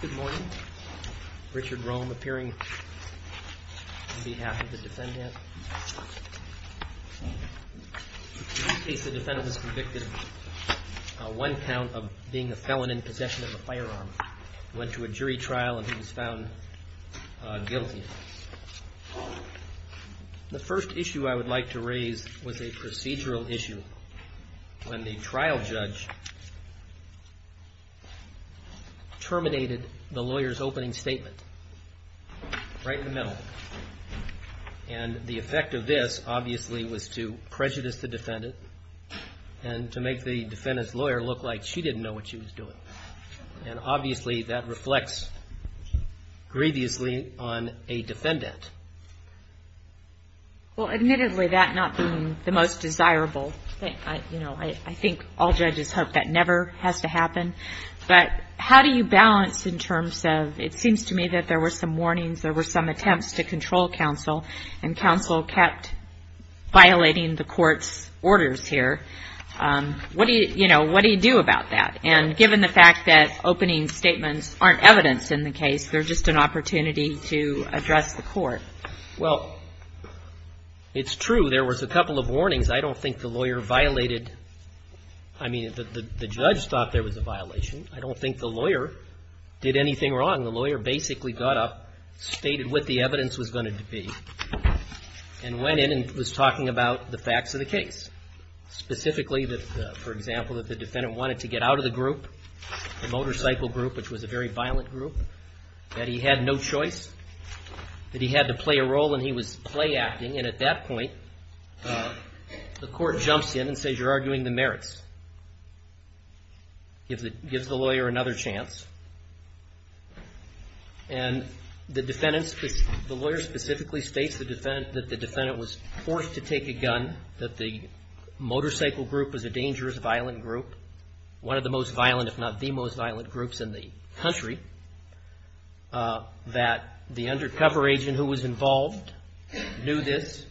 Good morning. Richard Rome appearing on behalf of the defendant. In this case the defendant is convicted of one count of being a felon in possession of a firearm. Went to a jury trial and he was found guilty. The first issue I would like to raise was a procedural issue when the trial judge terminated the lawyer's opening statement right in the middle. And the effect of this obviously was to prejudice the defendant and to make the defendant's lawyer look like she didn't know what she was doing. And obviously that reflects grievously on a defendant. Well, admittedly that not being the most desirable, I think all judges hope that never has to happen. But how do you balance in terms of it seems to me that there were some warnings, there were some attempts to control counsel and counsel kept violating the court's orders here. What do you, you know, what do you do about that? And given the fact that opening statements aren't evidence in the case, they're just an opportunity to address the court. Well, it's true there was a couple of warnings. I don't think the lawyer violated, I mean, the judge thought there was a violation. I don't think the lawyer did anything wrong. The lawyer basically got up, stated what the evidence was going to be, and went in and was talking about the facts of the case. Specifically, for example, that the defendant wanted to get out of the group, the motorcycle group, which was a very violent group, that he had no choice, that he had to play a role and he was play-acting. And at that point, the court jumps in and says, you're arguing the merits. Gives the lawyer another chance. And the defendant's, the lawyer specifically states that the defendant was forced to take a gun, that the motorcycle group was a dangerous, violent group, one of the most violent, if not the most violent groups in the country. That the undercover agent who was involved knew this,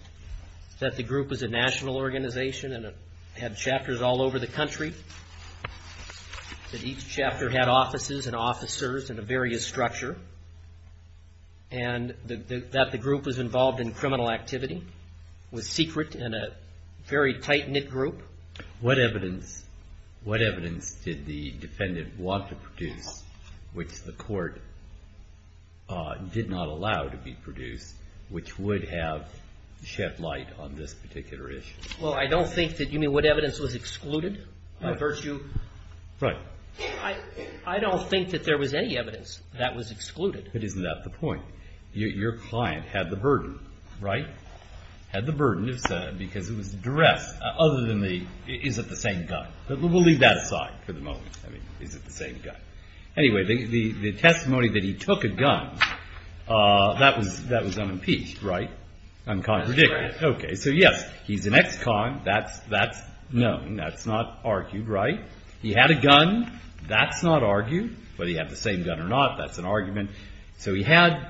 that the group was a national organization and had chapters all over the country, that each chapter had offices and officers in a various structure, and that the group was involved in criminal activity, was secret and a very tight-knit group. What evidence, what evidence did the defendant want to produce, which the court did not allow to be produced, which would have shed light on this particular issue? Well, I don't think that you mean what evidence was excluded? Right. By virtue? Right. I don't think that there was any evidence that was excluded. But isn't that the point? Your client had the burden, right? Had the burden because it was addressed. Other than the, is it the same gun? We'll leave that aside for the moment. I mean, is it the same gun? Anyway, the testimony that he took a gun, that was unimpeached, right? Uncontradicted. That's correct. Okay. So yes, he's an ex-con. That's known. That's not argued, right? He had a gun. That's not argued. Whether he had the same gun or not, that's an argument. So he had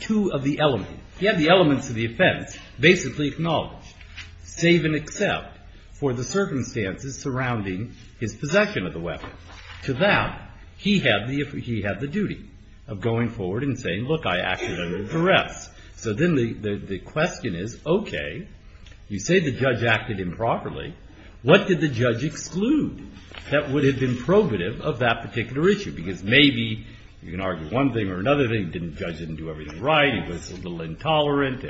two of the elements. He had the elements of the offense basically acknowledged, save and except for the circumstances surrounding his possession of the weapon. To that, he had the duty of going forward and saying, look, I acted under duress. So then the question is, okay, you say the judge acted improperly. What did the judge exclude that would have been probative of that particular issue? Because maybe you can argue one thing or another thing. The judge didn't do everything right. He was a little intolerant,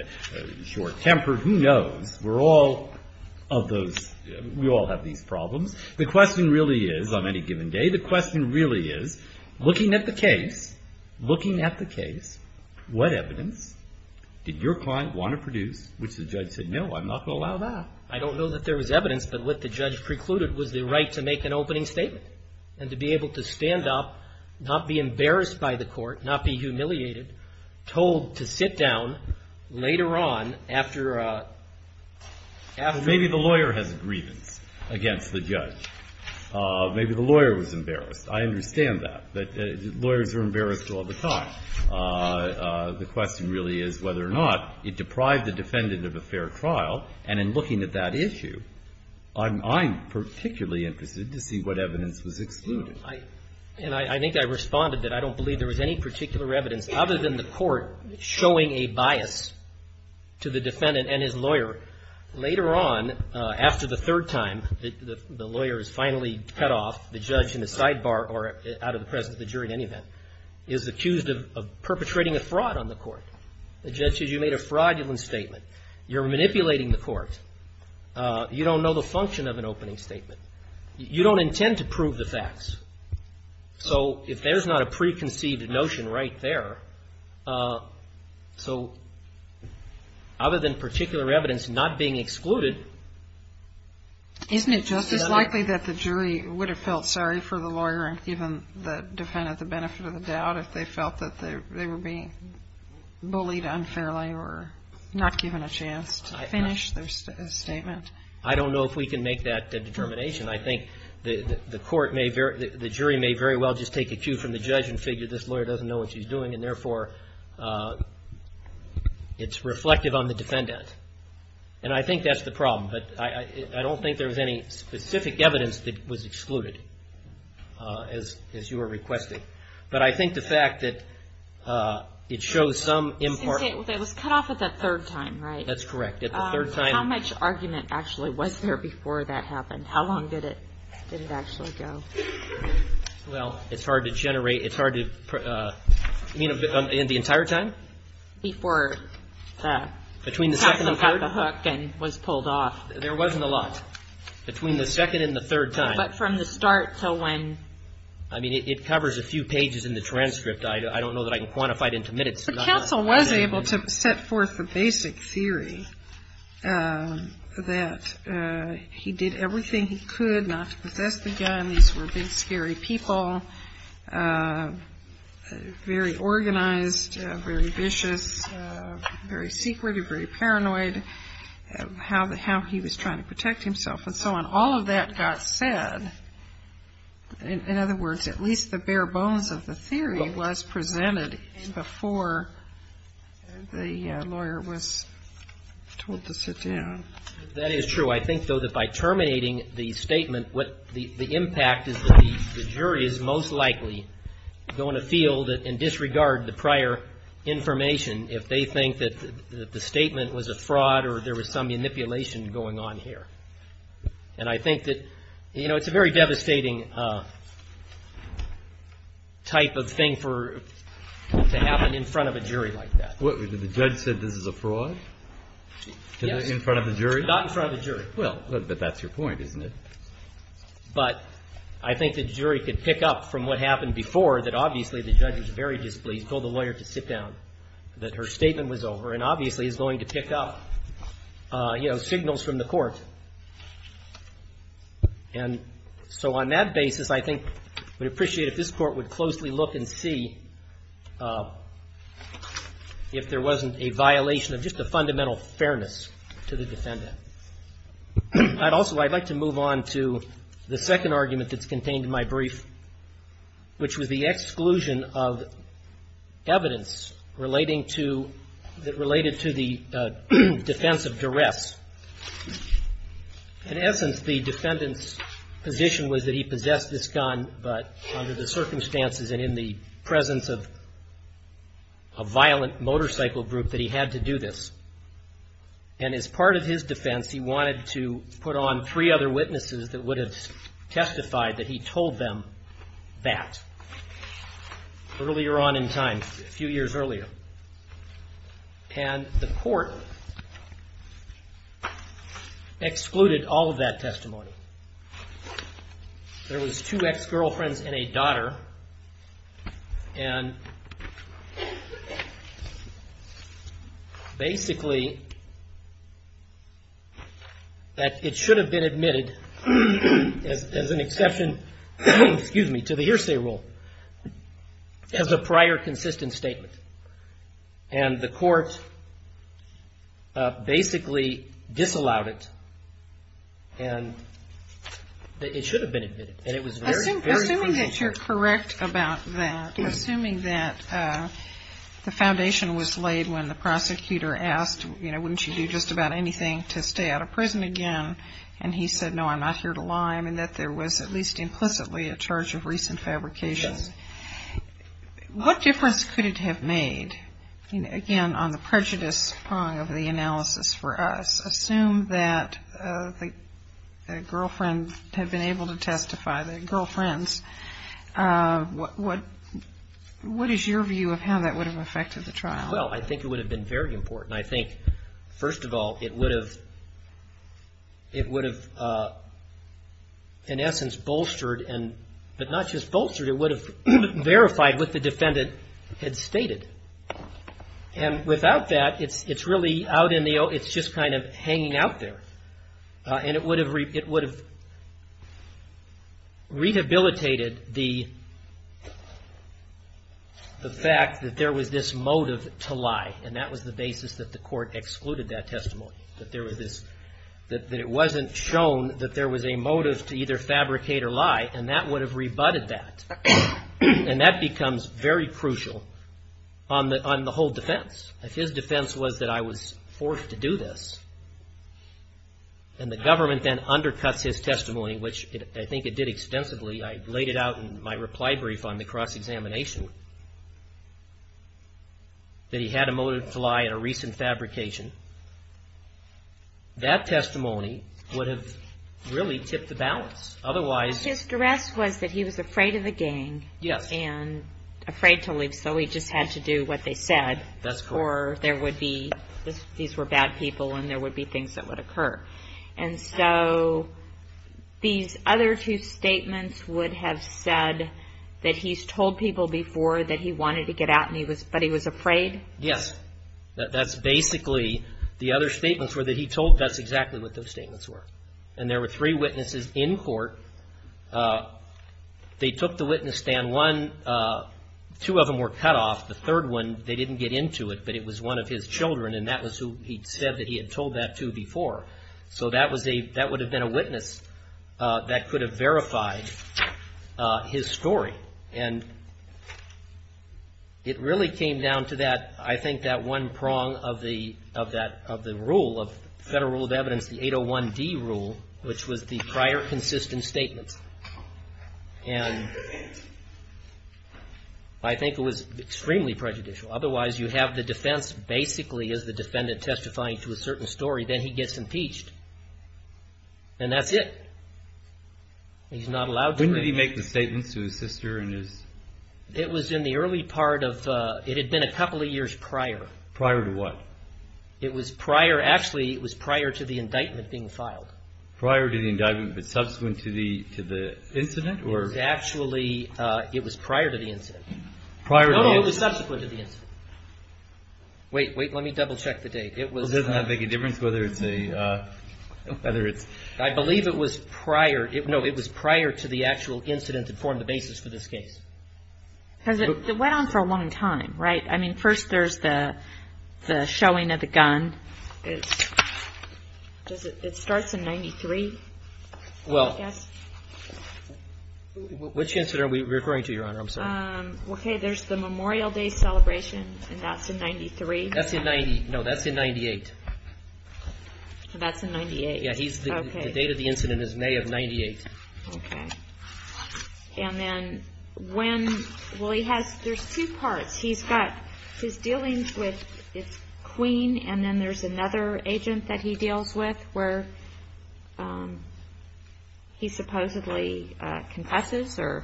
short-tempered. Who knows? We're all of those. We all have these problems. The question really is, on any given day, the question really is, looking at the case, looking at the case, what evidence did your client want to produce which the judge said, no, I'm not going to allow that? I don't know that there was evidence, but what the judge precluded was the right to make an opening statement and to be able to stand up, not be embarrassed by the court, not be humiliated, told to sit down later on after a, after a Maybe the lawyer has a grievance against the judge. Maybe the lawyer was embarrassed. I understand that. But lawyers are embarrassed all the time. The question really is whether or not it deprived the defendant of a fair trial. And in looking at that issue, I'm particularly interested to see what evidence was excluded. And I think I responded that I don't believe there was any particular evidence other than the court showing a bias to the defendant and his lawyer. Later on, after the third time, the lawyer is finally cut off, the judge in the sidebar or out of the presence of the jury in any event, is accused of perpetrating a fraud on the court. The judge says you made a fraudulent statement. You're manipulating the court. You don't know the function of an opening statement. You don't intend to prove the facts. So if there's not a preconceived notion right there, so other than particular evidence not being excluded. Isn't it just as likely that the jury would have felt sorry for the lawyer and given the defendant the benefit of the doubt if they felt that they were being bullied unfairly or not given a chance to finish their statement? I don't know if we can make that determination. I think the jury may very well just take a cue from the judge and figure this lawyer doesn't know what she's doing and therefore it's reflective on the defendant. And I think that's the problem. But I don't think there was any specific evidence that was excluded as you were requesting. But I think the fact that it shows some impartiality. It was cut off at the third time, right? That's correct. At the third time. How much argument actually was there before that happened? How long did it actually go? Well, it's hard to generate. It's hard to, you know, in the entire time? Before the counselor got the hook and was pulled off. There wasn't a lot. Between the second and the third time. But from the start till when? I mean, it covers a few pages in the transcript. I don't know that I can quantify it into minutes. The counsel was able to set forth the basic theory that he did everything he could not to possess the gun. These were big, scary people, very organized, very vicious, very secretive, very paranoid, how he was trying to protect himself and so on. All of that got said. In other words, at least the bare bones of the theory was presented before the lawyer was told to sit down. That is true. I think, though, that by terminating the statement, what the impact is that the jury is most likely going to feel and disregard the prior information if they think that the statement was a fraud or there was some manipulation going on here. And I think that, you know, it's a very devastating type of thing to happen in front of a jury like that. The judge said this is a fraud? In front of a jury? Not in front of a jury. Well, but that's your point, isn't it? But I think the jury could pick up from what happened before that obviously the judge was very displeased, told the lawyer to sit down, that her statement was over and obviously is going to pick up, you know, signals from the court. And so on that basis, I think we appreciate if this court would closely look and see if there wasn't a violation of just a fundamental fairness to the defendant. I'd also like to move on to the second argument that's contained in my brief, which was the exclusion of evidence relating to the defense of duress. In essence, the defendant's position was that he possessed this gun, but under the circumstances and in the presence of a violent motorcycle group that he had to do this. And as part of his defense, he wanted to put on three other witnesses that would have testified that he told them that. Earlier on in time, a few years earlier. And the court excluded all of that testimony. There was two ex-girlfriends and a daughter. And basically that it should have been admitted as an exception, excuse me, to the hearsay rule as a prior consistent statement. And the court basically disallowed it. And it should have been admitted. And it was very, very confusing. Assuming that you're correct about that, assuming that the foundation was laid when the prosecutor asked, you know, wouldn't you do just about anything to stay out of prison again? And he said, no, I'm not here to lie. I mean, that there was at least implicitly a charge of recent fabrication. Yes. What difference could it have made, again, on the prejudice part of the analysis for us? Assume that the girlfriends have been able to testify, the girlfriends. What is your view of how that would have affected the trial? Well, I think it would have been very important. And I think, first of all, it would have in essence bolstered, but not just bolstered, it would have verified what the defendant had stated. And without that, it's really out in the open. It's just kind of hanging out there. And it would have rehabilitated the fact that there was this motive to lie. And that was the basis that the court excluded that testimony. That there was this, that it wasn't shown that there was a motive to either fabricate or lie. And that would have rebutted that. And that becomes very crucial on the whole defense. If his defense was that I was forced to do this, and the government then undercuts his testimony, which I think it did extensively, I laid it out in my reply brief on the cross-examination, that he had a motive to lie in a recent fabrication, that testimony would have really tipped the balance. Otherwise... His duress was that he was afraid of the gang. Yes. And afraid to leave, so he just had to do what they said. That's correct. Or there would be, these were bad people, and there would be things that would occur. And so these other two statements would have said that he's told people before that he wanted to get out, but he was afraid? Yes. That's basically, the other statements were that he told, that's exactly what those statements were. And there were three witnesses in court. They took the witness stand one, two of them were cut off. The third one, they didn't get into it, but it was one of his children, and that was who he said that he had told that to before. So that was a, that would have been a witness that could have verified his story. And it really came down to that, I think that one prong of the rule of Federal Rule of Evidence, the 801D rule, which was the prior consistent statements. And I think it was extremely prejudicial. Otherwise, you have the defense basically as the defendant testifying to a certain story, then he gets impeached. And that's it. He's not allowed to- When did he make the statements to his sister and his- It was in the early part of, it had been a couple of years prior. Prior to what? It was prior, actually it was prior to the indictment being filed. Prior to the indictment, but subsequent to the incident? It was actually, it was prior to the incident. Prior to the- No, it was subsequent to the incident. Wait, wait, let me double check the date. It was- Well, it doesn't make a difference whether it's a, whether it's- I believe it was prior, no, it was prior to the actual incident that formed the basis for this case. Because it went on for a long time, right? I mean, first there's the showing of the gun. It starts in 93, I guess. Well, which incident are we referring to, Your Honor? I'm sorry. Okay, there's the Memorial Day celebration, and that's in 93. That's in 90, no, that's in 98. That's in 98. Yeah, he's- Okay. The date of the incident is May of 98. Okay. And then when, well, he has, there's two parts. He's got, he's dealing with his queen, and then there's another agent that he deals with where he supposedly confesses, or-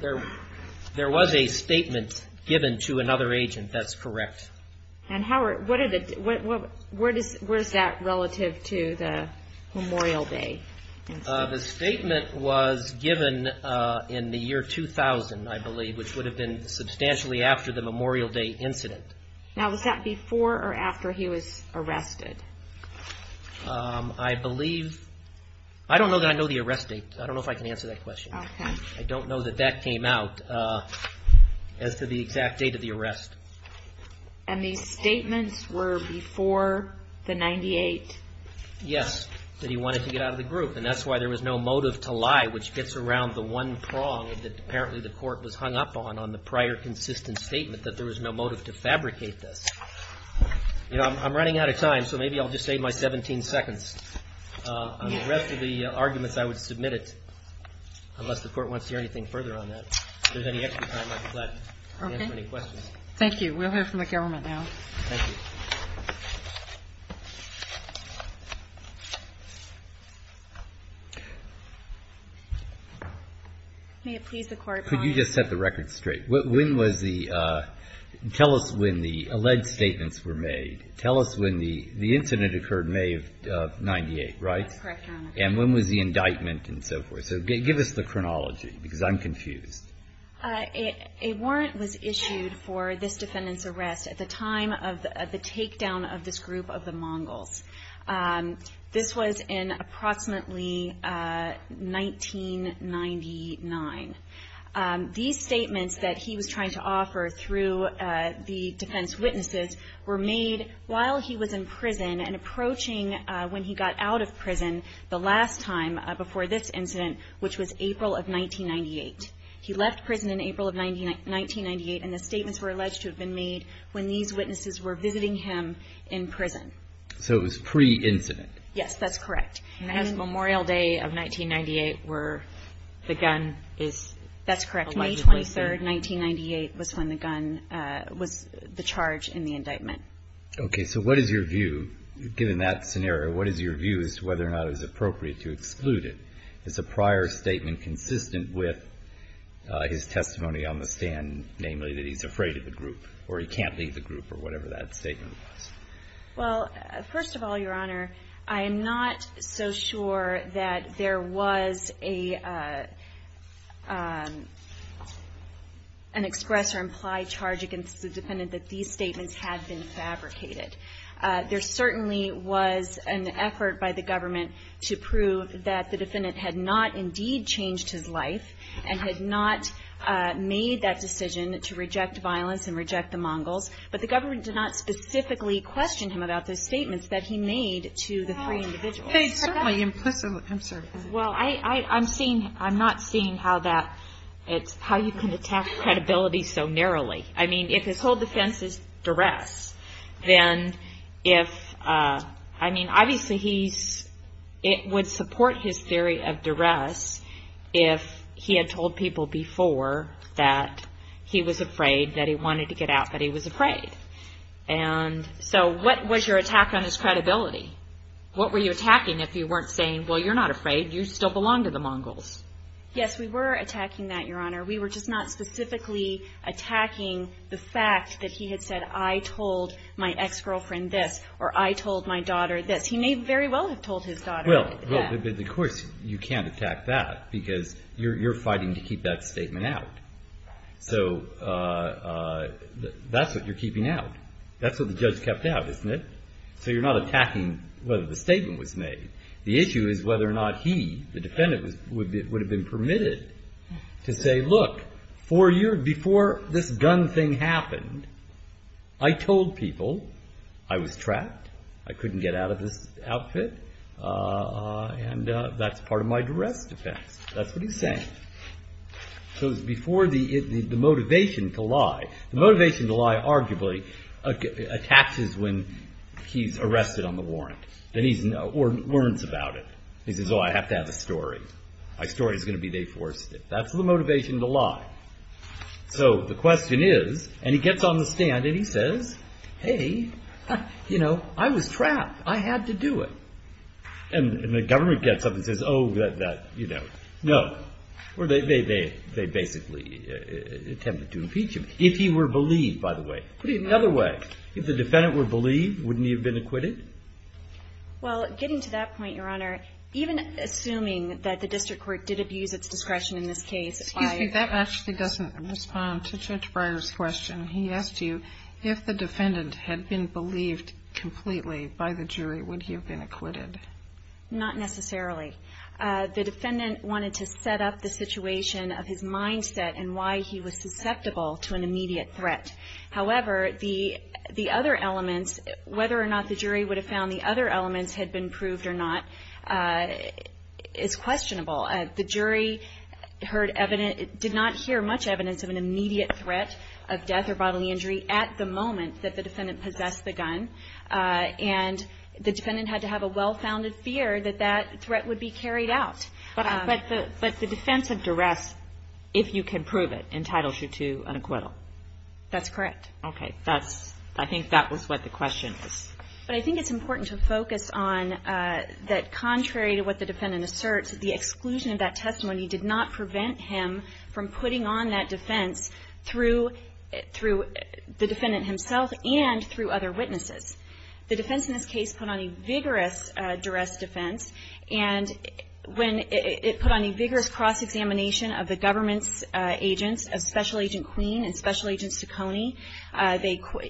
There was a statement given to another agent, that's correct. And how are, what are the, where is that relative to the Memorial Day incident? The statement was given in the year 2000, I believe, which would have been substantially after the Memorial Day incident. Now, was that before or after he was arrested? I believe, I don't know that I know the arrest date. I don't know if I can answer that question. Okay. I don't know that that came out as to the exact date of the arrest. And these statements were before the 98? Yes, that he wanted to get out of the group, and that's why there was no motive to lie, which gets around the one prong that apparently the court was hung up on, on the prior consistent statement, that there was no motive to fabricate this. You know, I'm running out of time, so maybe I'll just save my 17 seconds. On the rest of the arguments, I would submit it, unless the Court wants to hear anything further on that. If there's any extra time, I'd be glad to answer any questions. Thank you. We'll hear from the government now. Thank you. May it please the Court, Your Honor. Could you just set the record straight? When was the, tell us when the alleged statements were made. Tell us when the incident occurred, May of 98, right? That's correct, Your Honor. And when was the indictment and so forth? So give us the chronology, because I'm confused. A warrant was issued for this defendant's arrest at the time of the takedown of this group of the Mongols. This was in approximately 1999. These statements that he was trying to offer through the defense witnesses were made while he was in prison and approaching when he got out of prison the last time before this incident, which was April of 1998. He left prison in April of 1998, and the statements were alleged to have been made when these witnesses were visiting him in prison. So it was pre-incident. Yes, that's correct. And it has Memorial Day of 1998 where the gun is allegedly there. That's correct. May 23, 1998 was when the gun was the charge in the indictment. Okay. So what is your view, given that scenario, what is your view as to whether or not it was appropriate to exclude it? Is the prior statement consistent with his testimony on the stand, namely, that he's afraid of the group or he can't leave the group or whatever that statement was? Well, first of all, Your Honor, I am not so sure that there was an express or implied charge against the defendant that these statements had been fabricated. There certainly was an effort by the government to prove that the defendant had not indeed changed his life and had not made that decision to reject violence and reject the Mongols, but the government did not specifically question him about those statements that he made to the three individuals. They certainly implicitly, I'm sorry. Well, I'm seeing, I'm not seeing how that, how you can attack credibility so narrowly. I mean, if his whole defense is duress, then if, I mean, obviously he's, it would support his theory of duress if he had told people before that he was afraid, that he wanted to get out, that he was afraid. And so what was your attack on his credibility? What were you attacking if you weren't saying, well, you're not afraid, you still belong to the Mongols? Yes, we were attacking that, Your Honor. We were just not specifically attacking the fact that he had said, I told my ex-girlfriend this, or I told my daughter this. He may very well have told his daughter that. Well, of course you can't attack that because you're fighting to keep that statement out. So that's what you're keeping out. That's what the judge kept out, isn't it? So you're not attacking whether the statement was made. The issue is whether or not he, the defendant, would have been permitted to say, look, four years before this gun thing happened, I told people I was trapped, I couldn't get out of this outfit, and that's part of my duress defense. That's what he's saying. So it's before the motivation to lie. The motivation to lie, arguably, attaches when he's arrested on the warrant, or learns about it. He says, oh, I have to have a story. My story is going to be they forced it. That's the motivation to lie. So the question is, and he gets on the stand and he says, hey, you know, I was trapped. I had to do it. And the government gets up and says, oh, you know, no. Or they basically attempt to impeach him. If he were believed, by the way. Put it another way. If the defendant were believed, wouldn't he have been acquitted? Well, getting to that point, Your Honor, even assuming that the district court did abuse its discretion in this case. Excuse me, that actually doesn't respond to Judge Breyer's question. He asked you if the defendant had been believed completely by the jury, would he have been acquitted? Not necessarily. The defendant wanted to set up the situation of his mindset and why he was susceptible to an immediate threat. However, the other elements, whether or not the jury would have found the other elements had been proved or not, is questionable. The jury did not hear much evidence of an immediate threat of death or bodily injury at the moment that the defendant possessed the gun. And the defendant had to have a well-founded fear that that threat would be carried out. But the defense of duress, if you can prove it, entitles you to an acquittal. That's correct. Okay. I think that was what the question is. But I think it's important to focus on that contrary to what the defendant asserts, the exclusion of that testimony did not prevent him from putting on that defense through the defendant himself and through other witnesses. The defense in this case put on a vigorous duress defense. And when it put on a vigorous cross-examination of the government's agents, of Special Agent Queen and Special Agent Ciccone,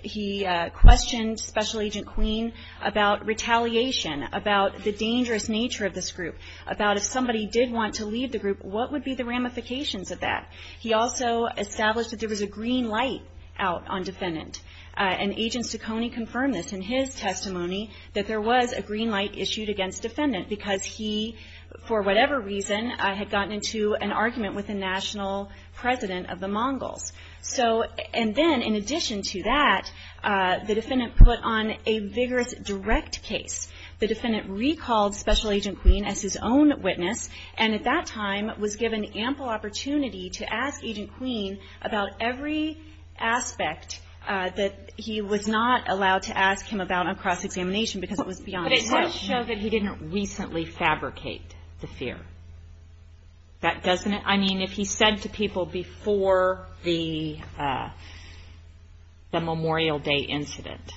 he questioned Special Agent Queen about retaliation, about the dangerous nature of this group, about if somebody did want to leave the group, what would be the ramifications of that? He also established that there was a green light out on defendant. And Agent Ciccone confirmed this in his testimony, that there was a green light issued against defendant because he, for whatever reason, had gotten into an argument with the national president of the Mongols. And then, in addition to that, the defendant put on a vigorous direct case. The defendant recalled Special Agent Queen as his own witness, and at that time was given ample opportunity to ask Agent Queen about every aspect that he was not allowed to ask him about on cross-examination because it was beyond his control. But it does show that he didn't recently fabricate the fear. I mean, if he said to people before the Memorial Day incident.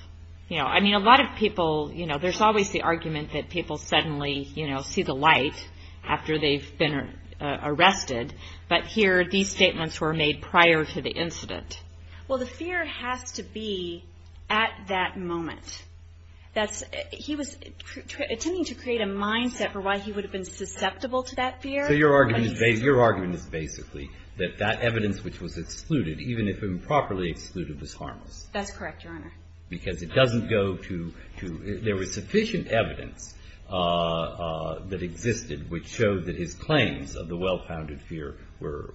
You know, I mean, a lot of people, you know, there's always the argument that people suddenly, you know, see the light after they've been arrested. Well, the fear has to be at that moment. That's he was attempting to create a mindset for why he would have been susceptible to that fear. So your argument is basically that that evidence which was excluded, even if improperly excluded, was harmless. That's correct, Your Honor. Because it doesn't go to, there was sufficient evidence that existed which showed that his claims of the well-founded fear were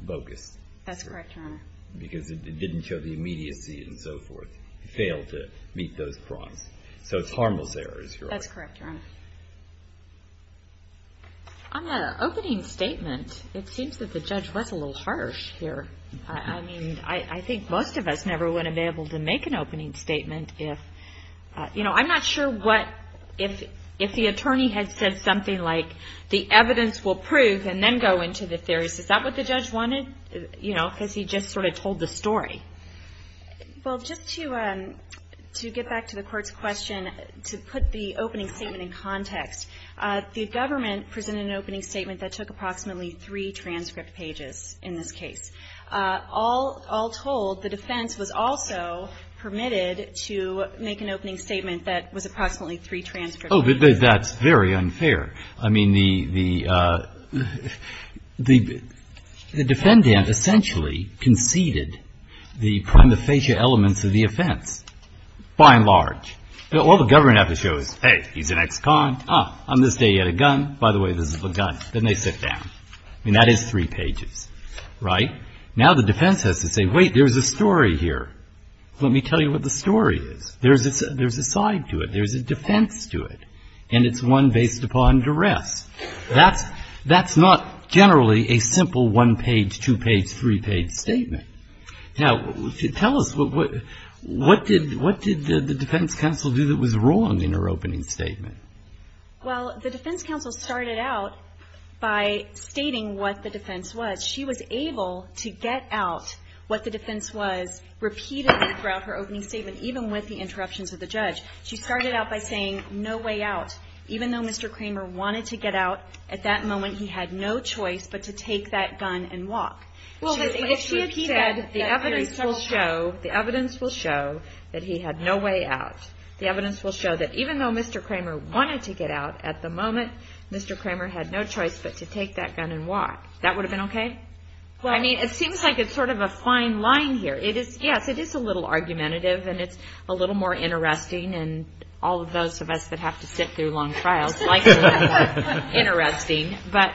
bogus. That's correct, Your Honor. Because it didn't show the immediacy and so forth. He failed to meet those crimes. So it's harmless errors. That's correct, Your Honor. On the opening statement, it seems that the judge was a little harsh here. I mean, I think most of us never would have been able to make an opening statement if, you know, I'm not sure what, if the attorney had said something like, the evidence will prove and then go into the theories. Is that what the judge wanted? You know, because he just sort of told the story. Well, just to get back to the Court's question, to put the opening statement in context, the government presented an opening statement that took approximately three transcript pages in this case. All told, the defense was also permitted to make an opening statement that was approximately three transcript pages. Oh, but that's very unfair. I mean, the defendant essentially conceded the prima facie elements of the offense, by and large. All the government has to show is, hey, he's an ex-con. Ah, on this day he had a gun. By the way, this is the gun. Then they sit down. I mean, that is three pages. Right? Now the defense has to say, wait, there's a story here. Let me tell you what the story is. There's a side to it. There's a defense to it. And it's one based upon duress. That's not generally a simple one-page, two-page, three-page statement. Now, tell us, what did the defense counsel do that was wrong in her opening statement? Well, the defense counsel started out by stating what the defense was. She was able to get out what the defense was repeatedly throughout her opening statement, even with the interruptions of the judge. She started out by saying, no way out. Even though Mr. Kramer wanted to get out, at that moment he had no choice but to take that gun and walk. Well, if she had said the evidence will show that he had no way out, the evidence will show that even though Mr. Kramer wanted to get out, at the moment Mr. Kramer had no choice but to take that gun and walk, that would have been okay? I mean, it seems like it's sort of a fine line here. Yes, it is a little argumentative, and it's a little more interesting, and all of those of us that have to sit through long trials like to have that interesting. But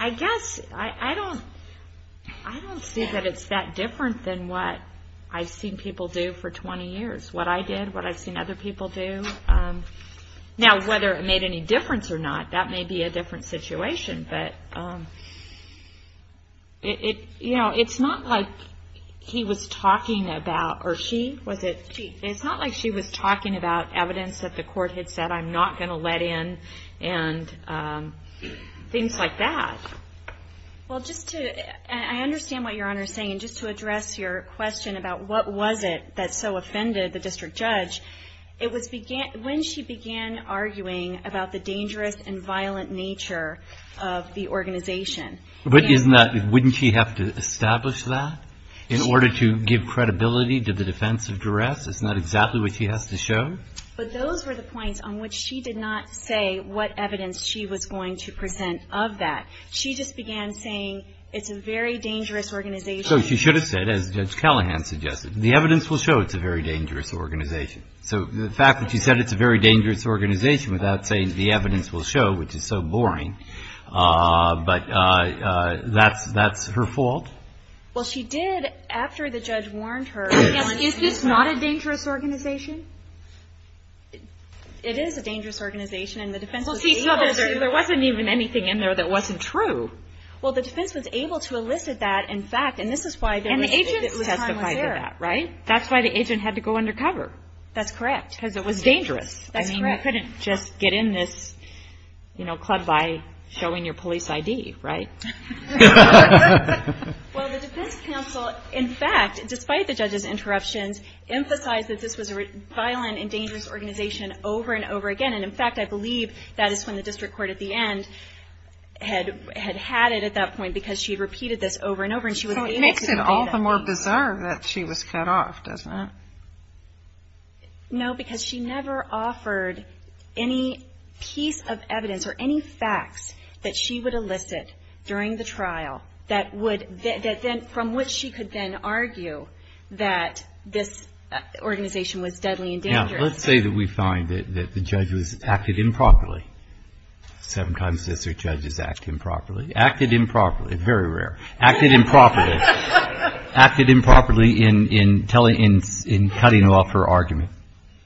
I guess I don't see that it's that different than what I've seen people do for 20 years, what I did, what I've seen other people do. Now, whether it made any difference or not, that may be a different situation. But, you know, it's not like he was talking about, or she, was it? She. It's not like she was talking about evidence that the court had said I'm not going to let in, and things like that. Well, just to, I understand what Your Honor is saying. Just to address your question about what was it that so offended the district judge, when she began arguing about the dangerous and violent nature of the organization. But isn't that, wouldn't she have to establish that in order to give credibility to the defense of duress? It's not exactly what she has to show? But those were the points on which she did not say what evidence she was going to present of that. She just began saying it's a very dangerous organization. So she should have said, as Judge Callahan suggested, The evidence will show it's a very dangerous organization. So the fact that she said it's a very dangerous organization without saying the evidence will show, which is so boring, but that's her fault. Well, she did, after the judge warned her. Is this not a dangerous organization? It is a dangerous organization, and the defense was able to. Well, see, there wasn't even anything in there that wasn't true. Well, the defense was able to elicit that in fact, and this is why. And the agent testified to that, right? That's why the agent had to go undercover. That's correct. Because it was dangerous. That's correct. I mean, you couldn't just get in this, you know, club by showing your police ID, right? Well, the defense counsel, in fact, despite the judge's interruptions, emphasized that this was a violent and dangerous organization over and over again. And, in fact, I believe that is when the district court at the end had had it at that point, because she repeated this over and over. So it makes it all the more bizarre that she was cut off, doesn't it? No, because she never offered any piece of evidence or any facts that she would elicit during the trial that would then, from which she could then argue that this organization was deadly and dangerous. Now, let's say that we find that the judge acted improperly. Sometimes it's the judges acting properly. Acted improperly, very rare. Acted improperly. Acted improperly in cutting off her argument.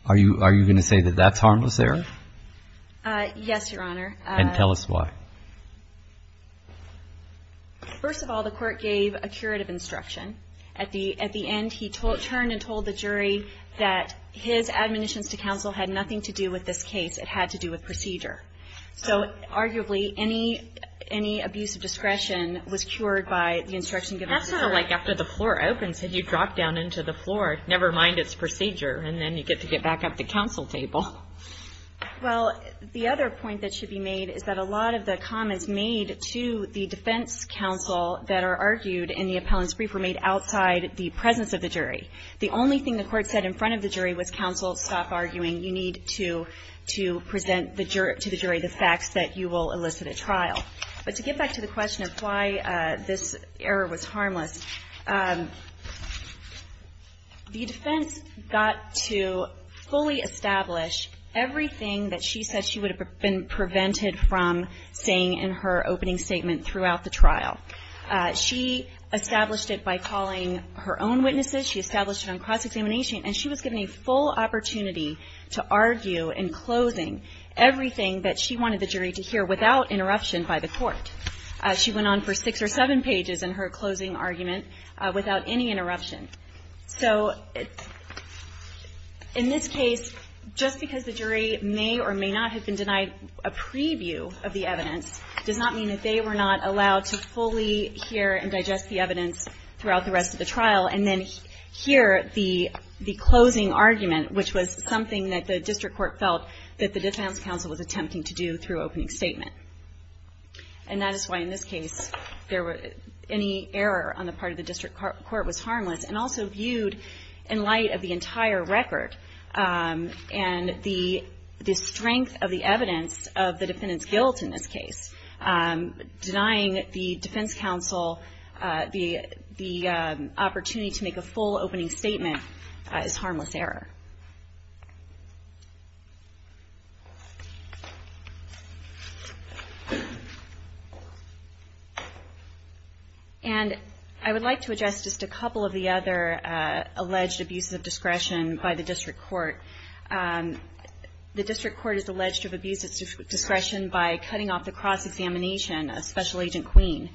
Are you going to say that that's harmless there? Yes, Your Honor. And tell us why. First of all, the court gave a curative instruction. At the end, he turned and told the jury that his admonitions to counsel had nothing to do with this case. It had to do with procedure. So arguably, any abuse of discretion was cured by the instruction given to the jury. That's sort of like after the floor opens and you drop down into the floor, never mind its procedure, and then you get to get back up to counsel table. Well, the other point that should be made is that a lot of the comments made to the defense counsel that are argued in the appellant's brief were made outside the presence of the jury. The only thing the court said in front of the jury was, you need to present to the jury the facts that you will elicit at trial. But to get back to the question of why this error was harmless, the defense got to fully establish everything that she said she would have been prevented from saying in her opening statement throughout the trial. She established it by calling her own witnesses. She established it on cross-examination. And she was given a full opportunity to argue in closing everything that she wanted the jury to hear without interruption by the court. She went on for six or seven pages in her closing argument without any interruption. So in this case, just because the jury may or may not have been denied a preview of the evidence does not mean that they were not allowed to fully hear and digest the evidence throughout the rest of the trial and then hear the closing argument, which was something that the district court felt that the defense counsel was attempting to do through opening statement. And that is why in this case there were any error on the part of the district court was harmless and also viewed in light of the entire record and the strength of the evidence of the defendant's guilt in this case. Denying the defense counsel the opportunity to make a full opening statement is harmless error. And I would like to address just a couple of the other alleged abuses of discretion by the district court. The district court is alleged to have abused its discretion by cutting off the cross-examination of Special Agent Queen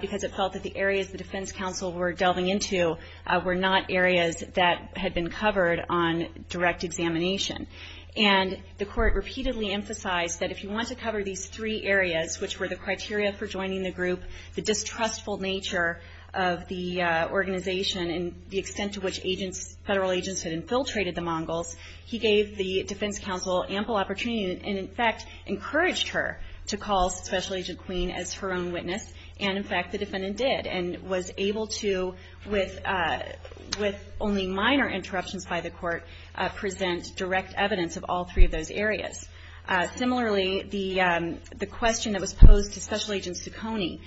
because it felt that the areas the defense counsel were delving into were not areas that had been covered on direct examination. And the court repeatedly emphasized that if you want to cover these three areas, which were the criteria for joining the group, the distrustful nature of the organization and the extent to which federal agents had infiltrated the Mongols, he gave the defense counsel ample opportunity and, in fact, encouraged her to call Special Agent Queen as her own witness. And, in fact, the defendant did and was able to, with only minor interruptions by the court, present direct evidence of all three of those areas. Similarly, the question that was posed to Special Agent Ciccone,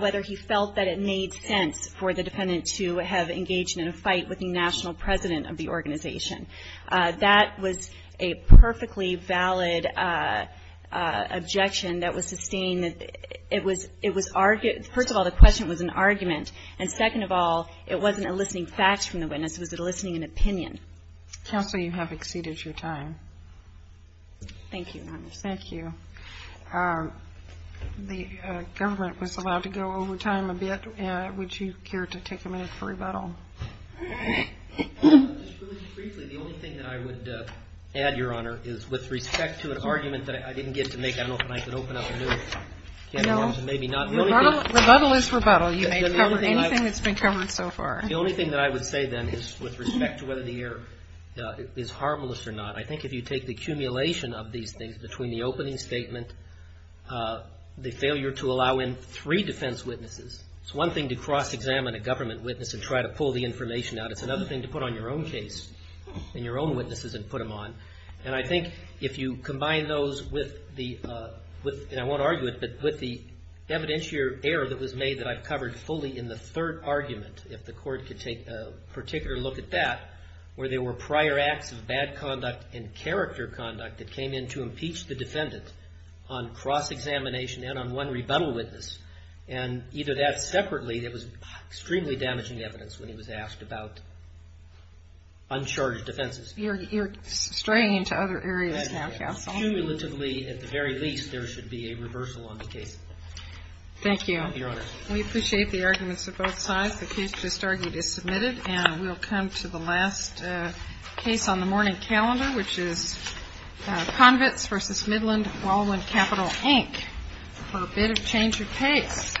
whether he felt that it made sense for the defendant to have engaged in a fight with the national president of the organization, that was a perfectly valid objection that was sustained. It was argued – first of all, the question was an argument. And second of all, it wasn't eliciting facts from the witness. It was eliciting an opinion. Counsel, you have exceeded your time. Thank you, Your Honor. Thank you. The government was allowed to go over time a bit. Would you care to take a minute for rebuttal? Just briefly, the only thing that I would add, Your Honor, is with respect to an argument that I didn't get to make, I don't know if I can open up a new can of worms. No. Maybe not. Rebuttal is rebuttal. You may cover anything that's been covered so far. The only thing that I would say, then, is with respect to whether the error is harmless or not, I think if you take the accumulation of these things between the opening statement, the failure to allow in three defense witnesses, it's one thing to cross-examine a government witness and try to pull the information out. It's another thing to put on your own case and your own witnesses and put them on. And I think if you combine those with the – and I won't argue it – but with the evidentiary error that was made that I've covered fully in the third argument, if the Court could take a particular look at that, where there were prior acts of bad conduct and character conduct that came in to impeach the defendant on cross-examination and on one rebuttal witness, and either that separately, that was extremely damaging evidence when he was asked about uncharged defenses. You're straying into other areas now, Counsel. Cumulatively, at the very least, there should be a reversal on the case. Thank you. Thank you, Your Honor. We appreciate the arguments of both sides. The case just argued is submitted, and we'll come to the last case on the morning calendar, which is Convicts v. Midland-Wallowand Capital, Inc. for a bit of change of pace. All right.